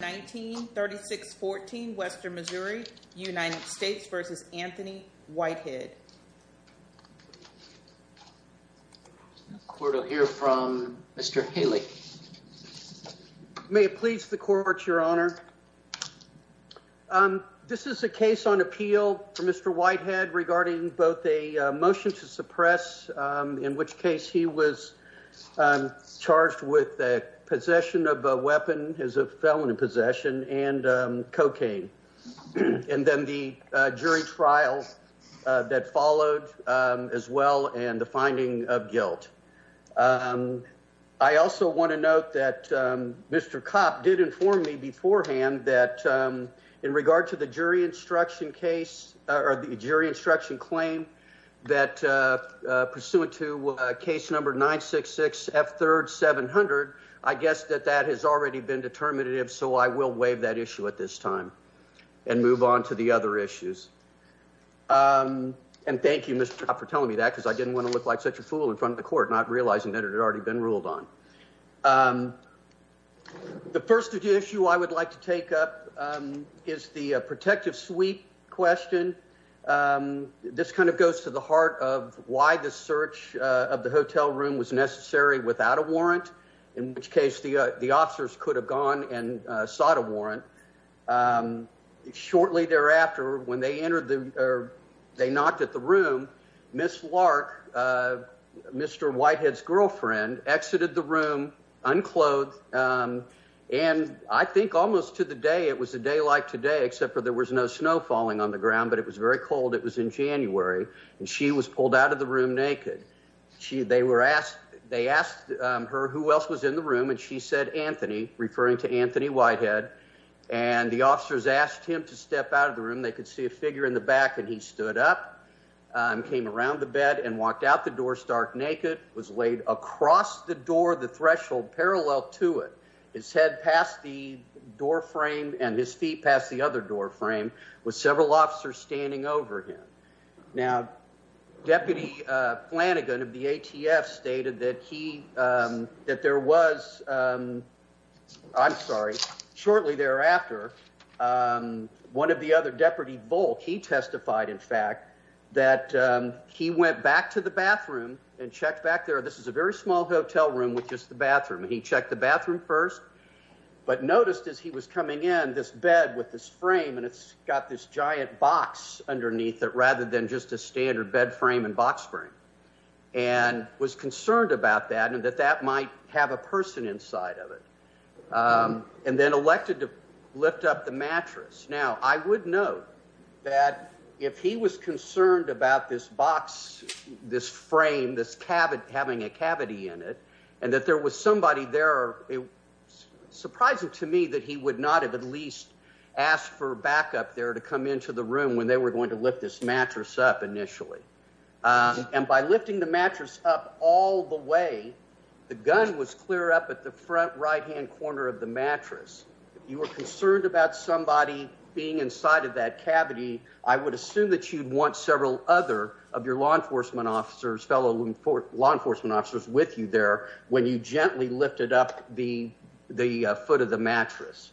1936-14 Western Missouri United States v. Anthony Whitehead Court will hear from Mr. Haley May it please the Court, Your Honor. This is a case on appeal for Mr. Whitehead regarding both a motion to suppress, in which case he was charged with possession of a weapon as a felon in possession and cocaine. And then the jury trial that followed as well and the finding of guilt. I also want to note that Mr. Kopp did inform me beforehand that in regard to the jury instruction case or the jury instruction claim that pursuant to case number 966F3rd 700, I guess that that has already been determinative. So I will waive that issue at this time and move on to the other issues. And thank you, Mr. Kopp, for telling me that because I didn't want to look like such a fool in front of the court, not realizing that it had already been ruled on. The first issue I would like to take up is the protective sweep question. This kind of goes to the heart of why the search of the hotel room was necessary without a warrant, in which case the officers could have gone and sought a warrant. Shortly thereafter, when they entered or they knocked at the room, Ms. Lark, Mr. Whitehead's wife, entered the room unclothed. And I think almost to the day it was a day like today, except for there was no snow falling on the ground. But it was very cold. It was in January. And she was pulled out of the room naked. They were asked they asked her who else was in the room. And she said, Anthony, referring to Anthony Whitehead. And the officers asked him to step out of the room. They could see a figure in the back. And he stood up and came around the bed and walked out the door stark naked, was laid across the door, the threshold parallel to it, his head past the door frame and his feet past the other door frame, with several officers standing over him. Now, Deputy Flanagan of the ATF stated that he that there was I'm sorry, shortly thereafter, one of the other deputy Volk, he testified, in fact, that he went back to the bathroom and checked back there. This is a very small hotel room with just the bathroom. He checked the bathroom first, but noticed as he was coming in this bed with this frame and it's got this giant box underneath it rather than just a standard bed frame and box frame and was concerned about that and that that might have a person inside of it and then elected to lift up the mattress. Now, I would note that if he was concerned about this box, this frame, this cabin having a cavity in it and that there was somebody there, it's surprising to me that he would not have at least asked for backup there to come into the room when they were going to lift this mattress up initially. And by lifting the mattress up all the way, the gun was clear up at the front right hand corner of the mattress. You were concerned about somebody being inside of that cavity. I would assume that you'd want several other of your law enforcement officers, fellow law enforcement officers with you there when you gently lifted up the the foot of the mattress.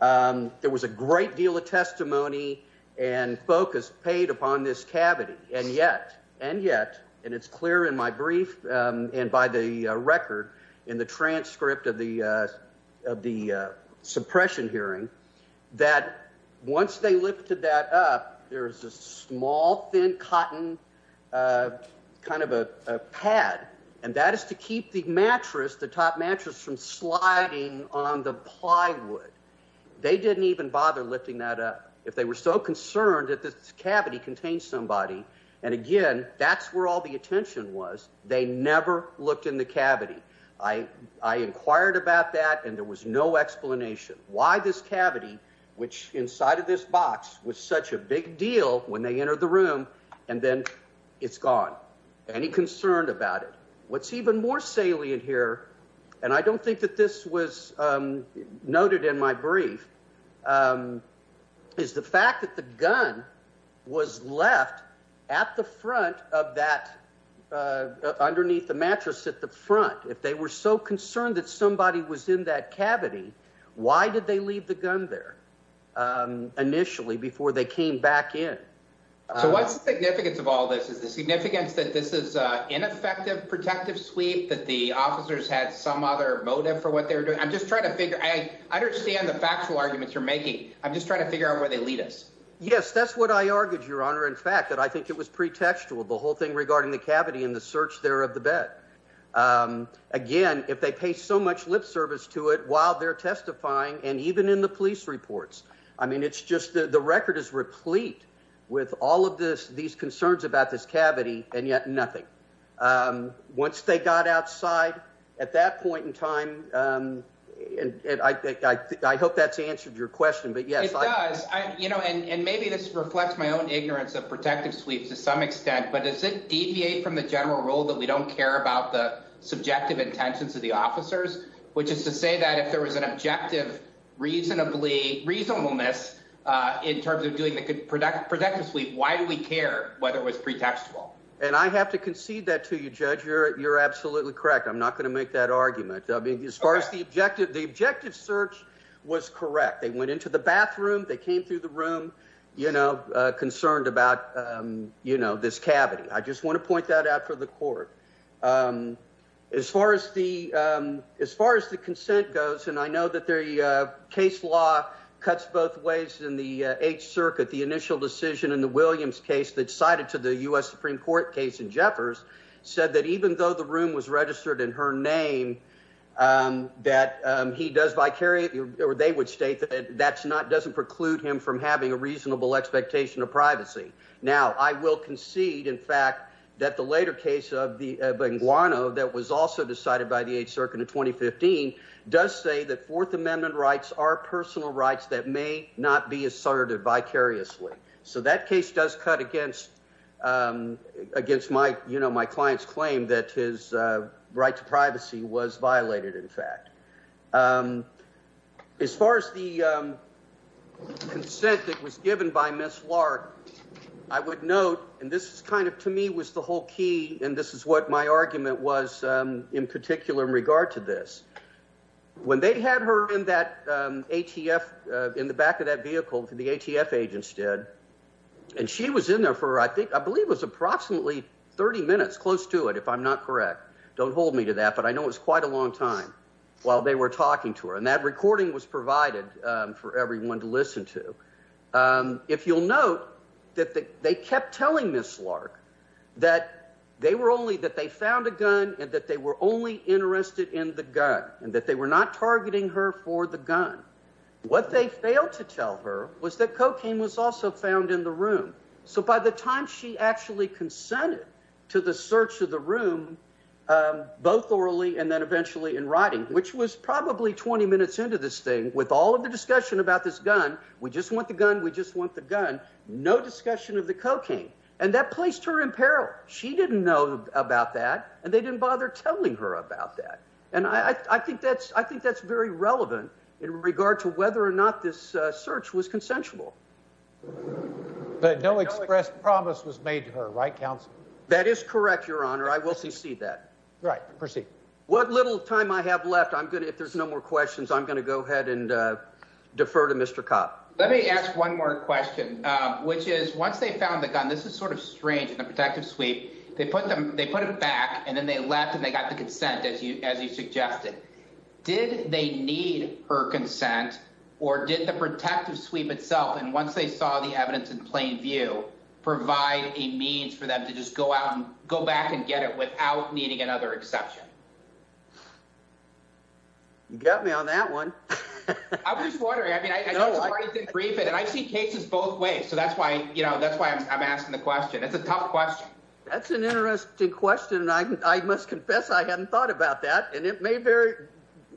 There was a great deal of testimony and focus paid upon this cavity. And yet and yet. And it's clear in my brief and by the record in the transcript of the of the suppression hearing that once they lifted that up, there was a small thin cotton kind of a pad. And that is to keep the mattress, the top mattress from sliding on the plywood. They didn't even bother lifting that up if they were so concerned that this cavity contained somebody. And again, that's where all the attention was. They never looked in the cavity. I inquired about that and there was no explanation why this cavity, which inside of this box was such a big deal when they entered the room and then it's gone. Any concerned about it? What's even more salient here, and I don't think that this was noted in my brief, is the fact that the gun was left at the front of that underneath the mattress at the front. If they were so concerned that somebody was in that cavity, why did they leave the gun there initially before they came back in? So what's the significance of all this is the significance that this is ineffective, protective sweep, that the officers had some other motive for what they were doing. I'm just trying to figure I understand the factual arguments you're making. I'm just trying to figure out where they lead us. Yes, that's what I argued, Your Honor. In fact, that I think it was pretextual, the whole thing regarding the cavity in the search there of the bed. Again, if they pay so much lip service to it while they're testifying and even in the police reports. I mean, it's just the record is replete with all of this, these concerns about this cavity and yet nothing. Once they got outside at that point in time, and I think I hope that's answered your question, but yes, I you know, and maybe this reflects my own ignorance of protective sweeps to some extent. But does it deviate from the general rule that we don't care about the subjective intentions of the officers, which is to say that if there was an objective, reasonably reasonableness in terms of doing the productive sweep, why do we care whether it was pretextual? And I have to concede that to you, Judge, you're absolutely correct. I'm not going to make that argument as far as the objective. The objective search was correct. They went into the bathroom, they came through the room, you know, concerned about, you know, this cavity. I just want to point that out for the court. As far as the as far as the consent goes, and I know that the case law cuts both ways in the Eighth Circuit, the initial decision in the Williams case that cited to the U.S. Supreme Court case in Jeffers said that even though the room was registered in her name that he does vicarious or they would state that that's not doesn't preclude him from having a reasonable expectation of privacy. Now, I will concede, in fact, that the later case of the Benguano that was also decided by the Eighth Circuit in 2015 does say that Fourth Amendment rights are personal rights that may not be asserted vicariously. So that case does cut against against my, you know, my client's claim that his right to privacy was violated, in fact, as far as the consent that was given by Miss Lark, I would note and this is kind of to me was the whole key. And this is what my argument was in particular in regard to this. When they had her in that ATF in the back of that vehicle for the ATF agents did and she was in there for I think I believe was approximately 30 minutes close to it, if I'm not correct. Don't hold me to that. But I know it's quite a long time while they were talking to her. And that recording was provided for everyone to listen to. If you'll note that they kept telling Miss Lark that they were only that they found a gun and that they were only interested in the gun and that they were not targeting her for the gun. What they failed to tell her was that cocaine was also found in the room. So by the time she actually consented to the search of the room, both orally and then eventually in writing, which was probably 20 minutes into this thing with all of the discussion about this gun. We just want the gun. We just want the gun. No discussion of the cocaine. And that placed her in peril. She didn't know about that and they didn't bother telling her about that. And I think that's I think that's very relevant in regard to whether or not this search was consensual. But no express promise was made to her, right? Council. That is correct, Your Honor. I will see. See that. Right. Proceed. What little time I have left. I'm going to if there's no more questions, I'm going to go ahead and defer to Mr. Cobb. Let me ask one more question, which is once they found the gun. This is sort of strange. The protective sweep. They put them they put it back and then they left and they got the consent as you as you suggested. Did they need her consent or did the protective sweep itself have to be removed? And once they saw the evidence in plain view, provide a means for them to just go out and go back and get it without needing another exception. You got me on that one. I was wondering, I mean, I know I did brief it and I see cases both ways. So that's why you know, that's why I'm asking the question. It's a tough question. That's an interesting question. And I must confess, I hadn't thought about that. And it may very,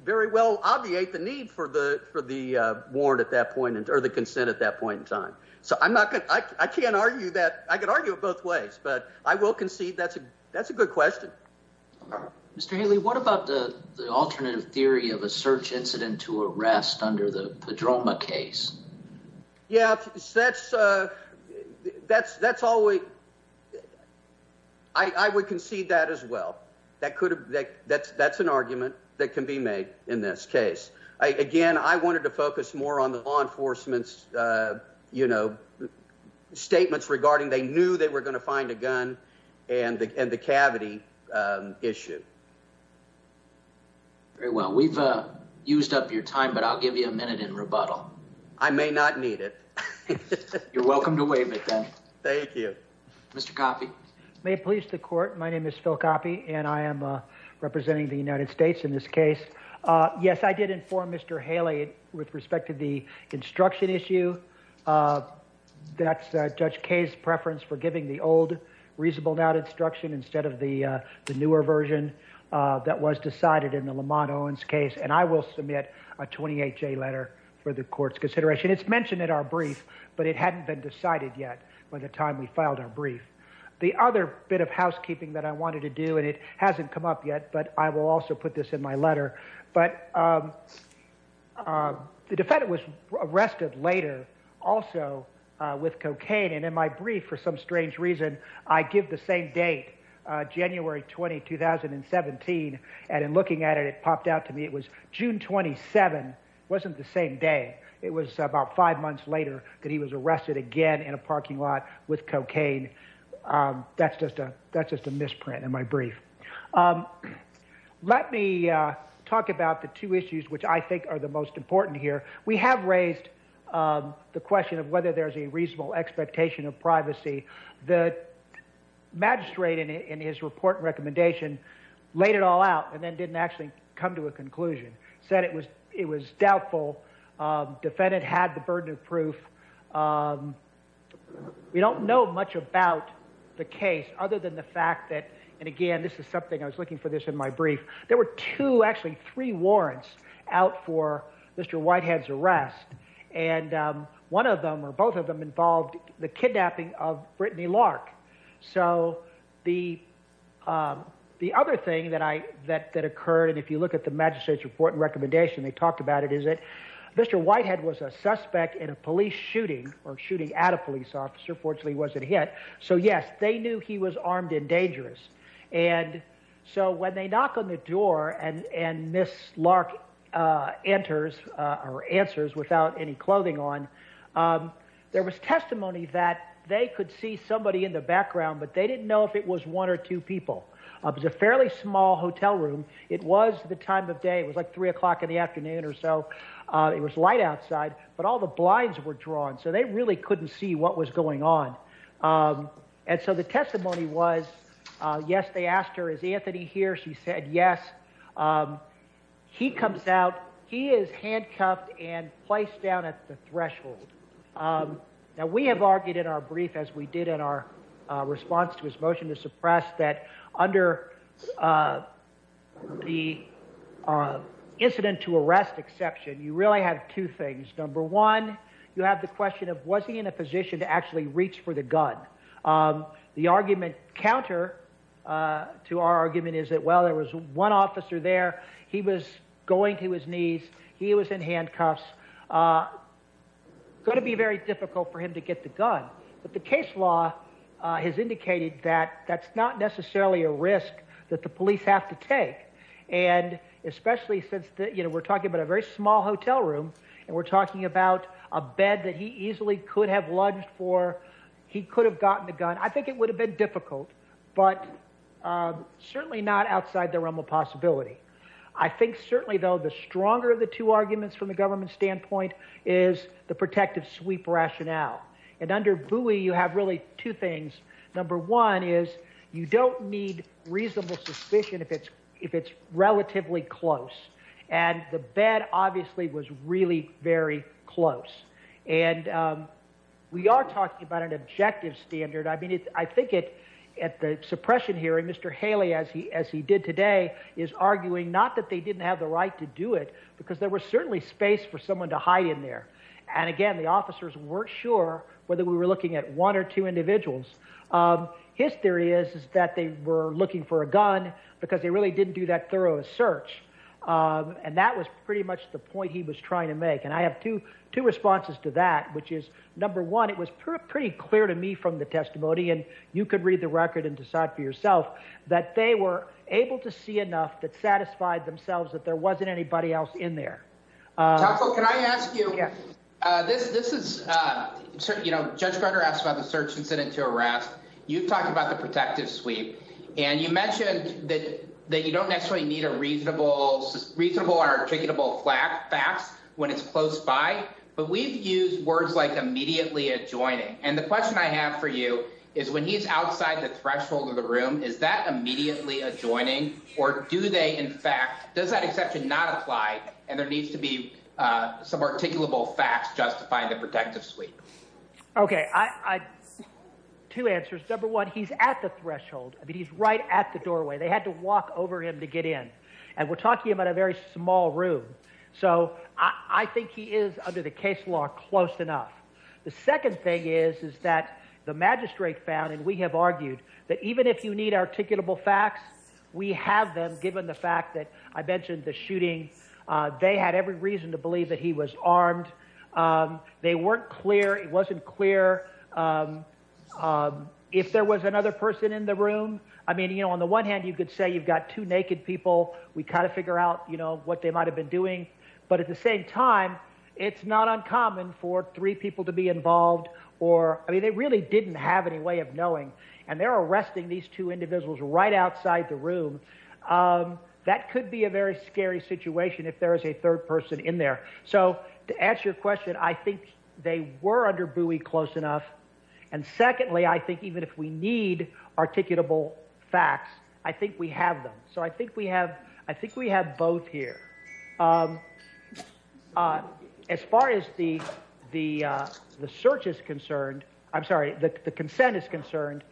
very well obviate the need for the for the warrant at that point or the consent at that point in time. So I'm not going to I can't argue that I could argue it both ways, but I will concede that's a that's a good question. Mr. Haley, what about the alternative theory of a search incident to arrest under the Padroma case? Yeah, that's that's that's always. I would concede that as well, that could that's that's an argument that can be made in this case. Again, I wanted to focus more on the law enforcement's, you know, statements regarding they knew they were going to find a gun and the cavity issue. Very well, we've used up your time, but I'll give you a minute in rebuttal. I may not need it. You're welcome to waive it then. Thank you, Mr. Coffey. May it please the court. My name is Phil Coffey and I am representing the United States in this case. Yes, I did inform Mr. Haley with respect to the instruction issue. That's Judge Kaye's preference for giving the old reasonable doubt instruction instead of the newer version that was decided in the Lamont Owens case. And I will submit a 28 day letter for the court's consideration. It's mentioned in our brief, but it hadn't been decided yet by the time we filed our brief. The other bit of housekeeping that I wanted to do, and it hasn't come up yet, but I will also put this in my letter. But the defendant was arrested later also with cocaine. And in my brief, for some strange reason, I give the same date, January 20, 2017. And in looking at it, it popped out to me it was June 27, wasn't the same day. It was about five months later that he was arrested again in a parking lot with cocaine. That's just a that's just a misprint in my brief. Let me talk about the two issues which I think are the most important here. We have raised the question of whether there is a reasonable expectation of privacy. The magistrate in his report recommendation laid it all out and then didn't actually come to a conclusion, said it was it was doubtful. Defendant had the burden of proof. We don't know much about the case other than the fact that and again, this is something I was looking for this in my brief. There were two actually three warrants out for Mr. Whitehead's arrest and one of them or both of them involved the kidnapping of Brittany Lark. So the the other thing that I that that occurred and if you look at the magistrate's report recommendation, they talked about it is that Mr. Whitehead was a suspect in a police shooting or shooting at a police officer. Fortunately, he wasn't hit. So, yes, they knew he was armed and dangerous. And so when they knock on the door and and Miss Lark enters or answers without any clothing on, there was testimony that they could see somebody in the background, but they didn't know if it was one or two people. It was a fairly small hotel room. It was the time of day. It was like three o'clock in the afternoon or so. It was light outside, but all the blinds were drawn. So they really couldn't see what was going on. And so the testimony was, yes, they asked her, is Anthony here? She said, yes, he comes out. He is handcuffed and placed down at the threshold. Now, we have argued in our brief, as we did in our response to his motion to suppress that under the incident to arrest exception, you really have two things. Number one, you have the question of was he in a position to actually reach for the gun? The argument counter to our argument is that, well, there was one officer there. He was going to his knees. He was in handcuffs. It's going to be very difficult for him to get the gun. But the case law has indicated that that's not necessarily a risk that the police have to take. And especially since we're talking about a very small hotel room and we're talking about a bed that he easily could have lunged for, he could have gotten the gun. I think it would have been difficult, but certainly not outside the realm of possibility. I think certainly, though, the stronger of the two arguments from the government standpoint is the protective sweep rationale. And under Bowie, you have really two things. Number one is you don't need reasonable suspicion if it's if it's relatively close. And the bed obviously was really very close. And we are talking about an objective standard. I mean, I think it at the suppression hearing, Mr. Haley, as he as he did today, is arguing not that they didn't have the right to do it because there was certainly space for someone to hide in there. And again, the officers weren't sure whether we were looking at one or two individuals. His theory is that they were looking for a gun because they really didn't do that thorough search. And that was pretty much the point he was trying to make. And I have two two responses to that, which is, number one, it was pretty clear to me from the testimony. And you could read the record and decide for yourself that they were able to see enough that satisfied themselves that there wasn't anybody else in there. Can I ask you, this this is, you know, Judge Carter asked about the search incident to arrest. You talked about the protective sweep and you mentioned that you don't necessarily need a reasonable, reasonable or articulable fact facts when it's close by. But we've used words like immediately adjoining. And the question I have for you is when he's outside the threshold of the room, is that immediately adjoining or do they in fact, does that exception not apply? And there needs to be some articulable facts justifying the protective sweep. OK, I two answers. Number one, he's at the threshold. I mean, he's right at the doorway. They had to walk over him to get in. And we're talking about a very small room. So I think he is under the case law close enough. The second thing is, is that the magistrate found and we have argued that even if you need articulable facts, we have them. Given the fact that I mentioned the shooting, they had every reason to believe that he was armed. They weren't clear. It wasn't clear if there was another person in the room. I mean, you know, on the one hand, you could say you've got two naked people. We kind of figure out, you know, what they might have been doing. But at the same time, it's not uncommon for three people to be involved or I mean, they really didn't have any way of knowing. And they're arresting these two individuals right outside the room. That could be a very scary situation if there is a third person in there. So to answer your question, I think they were under buoy close enough. And secondly, I think even if we need articulable facts, I think we have them. So I think we have I think we have both here. As far as the the the search is concerned, I'm sorry, the consent is concerned.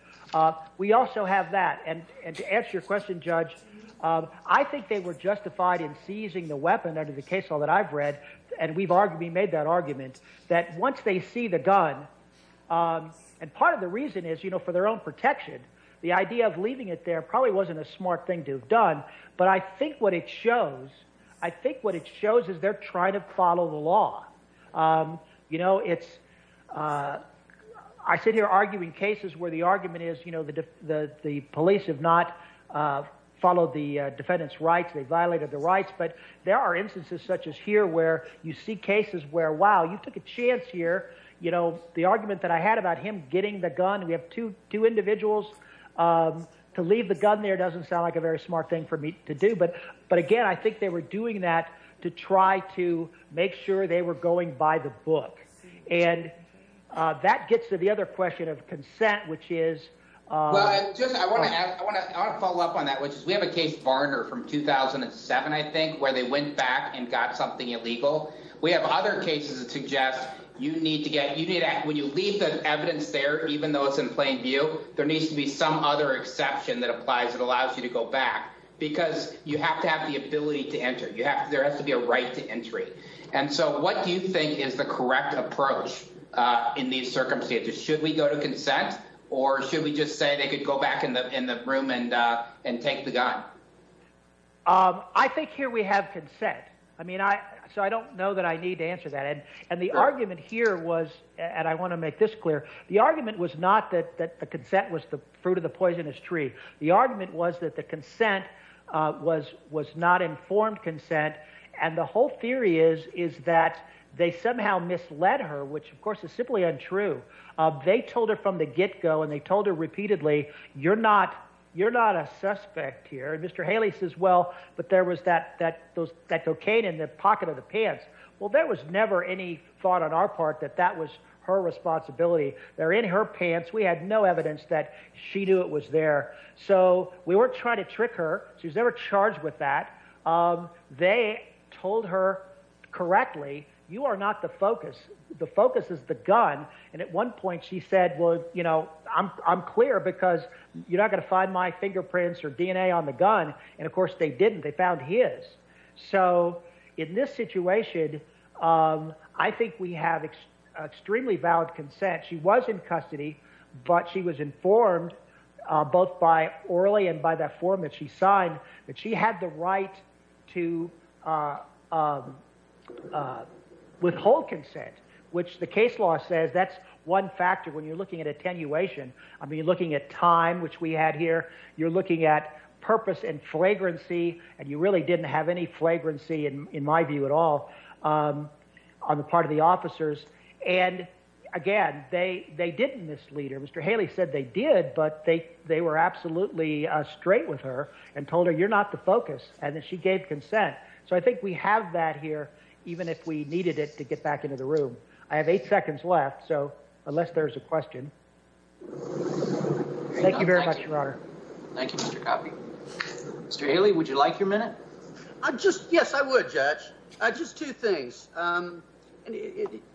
We also have that. And to answer your question, Judge, I think they were justified in seizing the weapon under the case law that I've read. And we've already made that argument that once they see the gun and part of the reason is, you know, for their own protection, the idea of leaving it there probably wasn't a smart thing to have done. But I think what it shows, I think what it shows is they're trying to follow the law. You know, it's I sit here arguing cases where the argument is, you know, that the police have not followed the defendant's rights. They violated the rights. But there are instances such as here where you see cases where, wow, you took a chance here. You know, the argument that I had about him getting the gun, we have to do individuals to leave the gun there doesn't sound like a very smart thing for me to do. But but again, I think they were doing that to try to make sure they were going by the book. And that gets to the other question of consent, which is just I want to I want to go back to 2007, I think, where they went back and got something illegal. We have other cases that suggest you need to get you need to when you leave the evidence there, even though it's in plain view, there needs to be some other exception that applies that allows you to go back because you have to have the ability to enter. You have there has to be a right to entry. And so what do you think is the correct approach in these circumstances? Should we go to consent or should we just say they could go back in the in the room and and take the gun? I think here we have consent. I mean, I so I don't know that I need to answer that. And and the argument here was and I want to make this clear, the argument was not that that the consent was the fruit of the poisonous tree. The argument was that the consent was was not informed consent. And the whole theory is, is that they somehow misled her, which, of course, is simply untrue. They told her from the get go and they told her repeatedly, you're not you're not a suspect here. Mr. Haley says, well, but there was that that those that cocaine in the pocket of the pants. Well, there was never any thought on our part that that was her responsibility. They're in her pants. We had no evidence that she knew it was there. So we weren't trying to trick her. She's never charged with that. They told her correctly, you are not the focus. The focus is the gun. And at one point she said, well, you know, I'm I'm clear because you're not going to find my fingerprints or DNA on the gun. And of course, they didn't. They found his. So in this situation, I think we have extremely valid consent. She was in custody, but she was informed both by Orly and by that form that she signed that she had the right to withhold consent, which the case law says that's one factor when you're looking at attenuation. I mean, looking at time, which we had here, you're looking at purpose and flagrancy and you really didn't have any flagrancy in my view at all on the part of the officers. And again, they they didn't mislead her. Mr. Haley said they did, but they they were absolutely straight with her and told her you're not the focus. And then she gave consent. So I think we have that here, even if we needed it to get back into the room. I have eight seconds left. So unless there's a question. Thank you very much, your honor. Thank you, Mr. Coffey. Mr. Haley, would you like your minute? I just yes, I would, Judge. Just two things.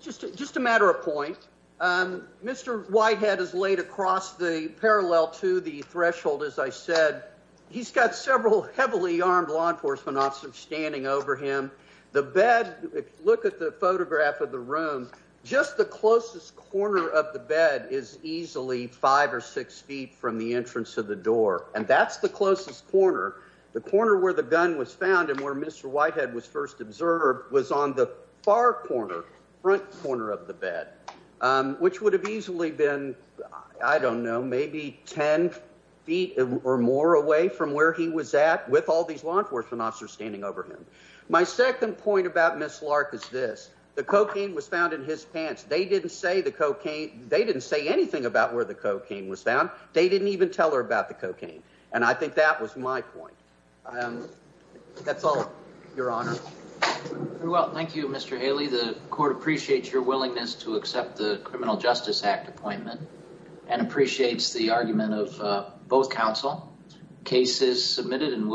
Just just a matter of point. Mr. Whitehead is laid across the parallel to the threshold. As I said, he's got several heavily armed law enforcement officers standing over him. The bed. Look at the photograph of the room. Just the closest corner of the bed is easily five or six feet from the entrance of the door. And that's the closest corner, the corner where the gun was found and where Mr. Whitehead was first observed was on the far corner, front corner of the bed, which would have easily been, I don't know, maybe 10 feet or more away from where he was at with all these law enforcement officers standing over him. My second point about Miss Lark is this. The cocaine was found in his pants. They didn't say the cocaine. They didn't say anything about where the cocaine was found. They didn't even tell her about the cocaine. And I think that was my point. That's all your honor. Well, thank you, Mr. Haley. The court appreciates your willingness to accept the Criminal Justice Act appointment and appreciates the argument of both counsel cases submitted and will be.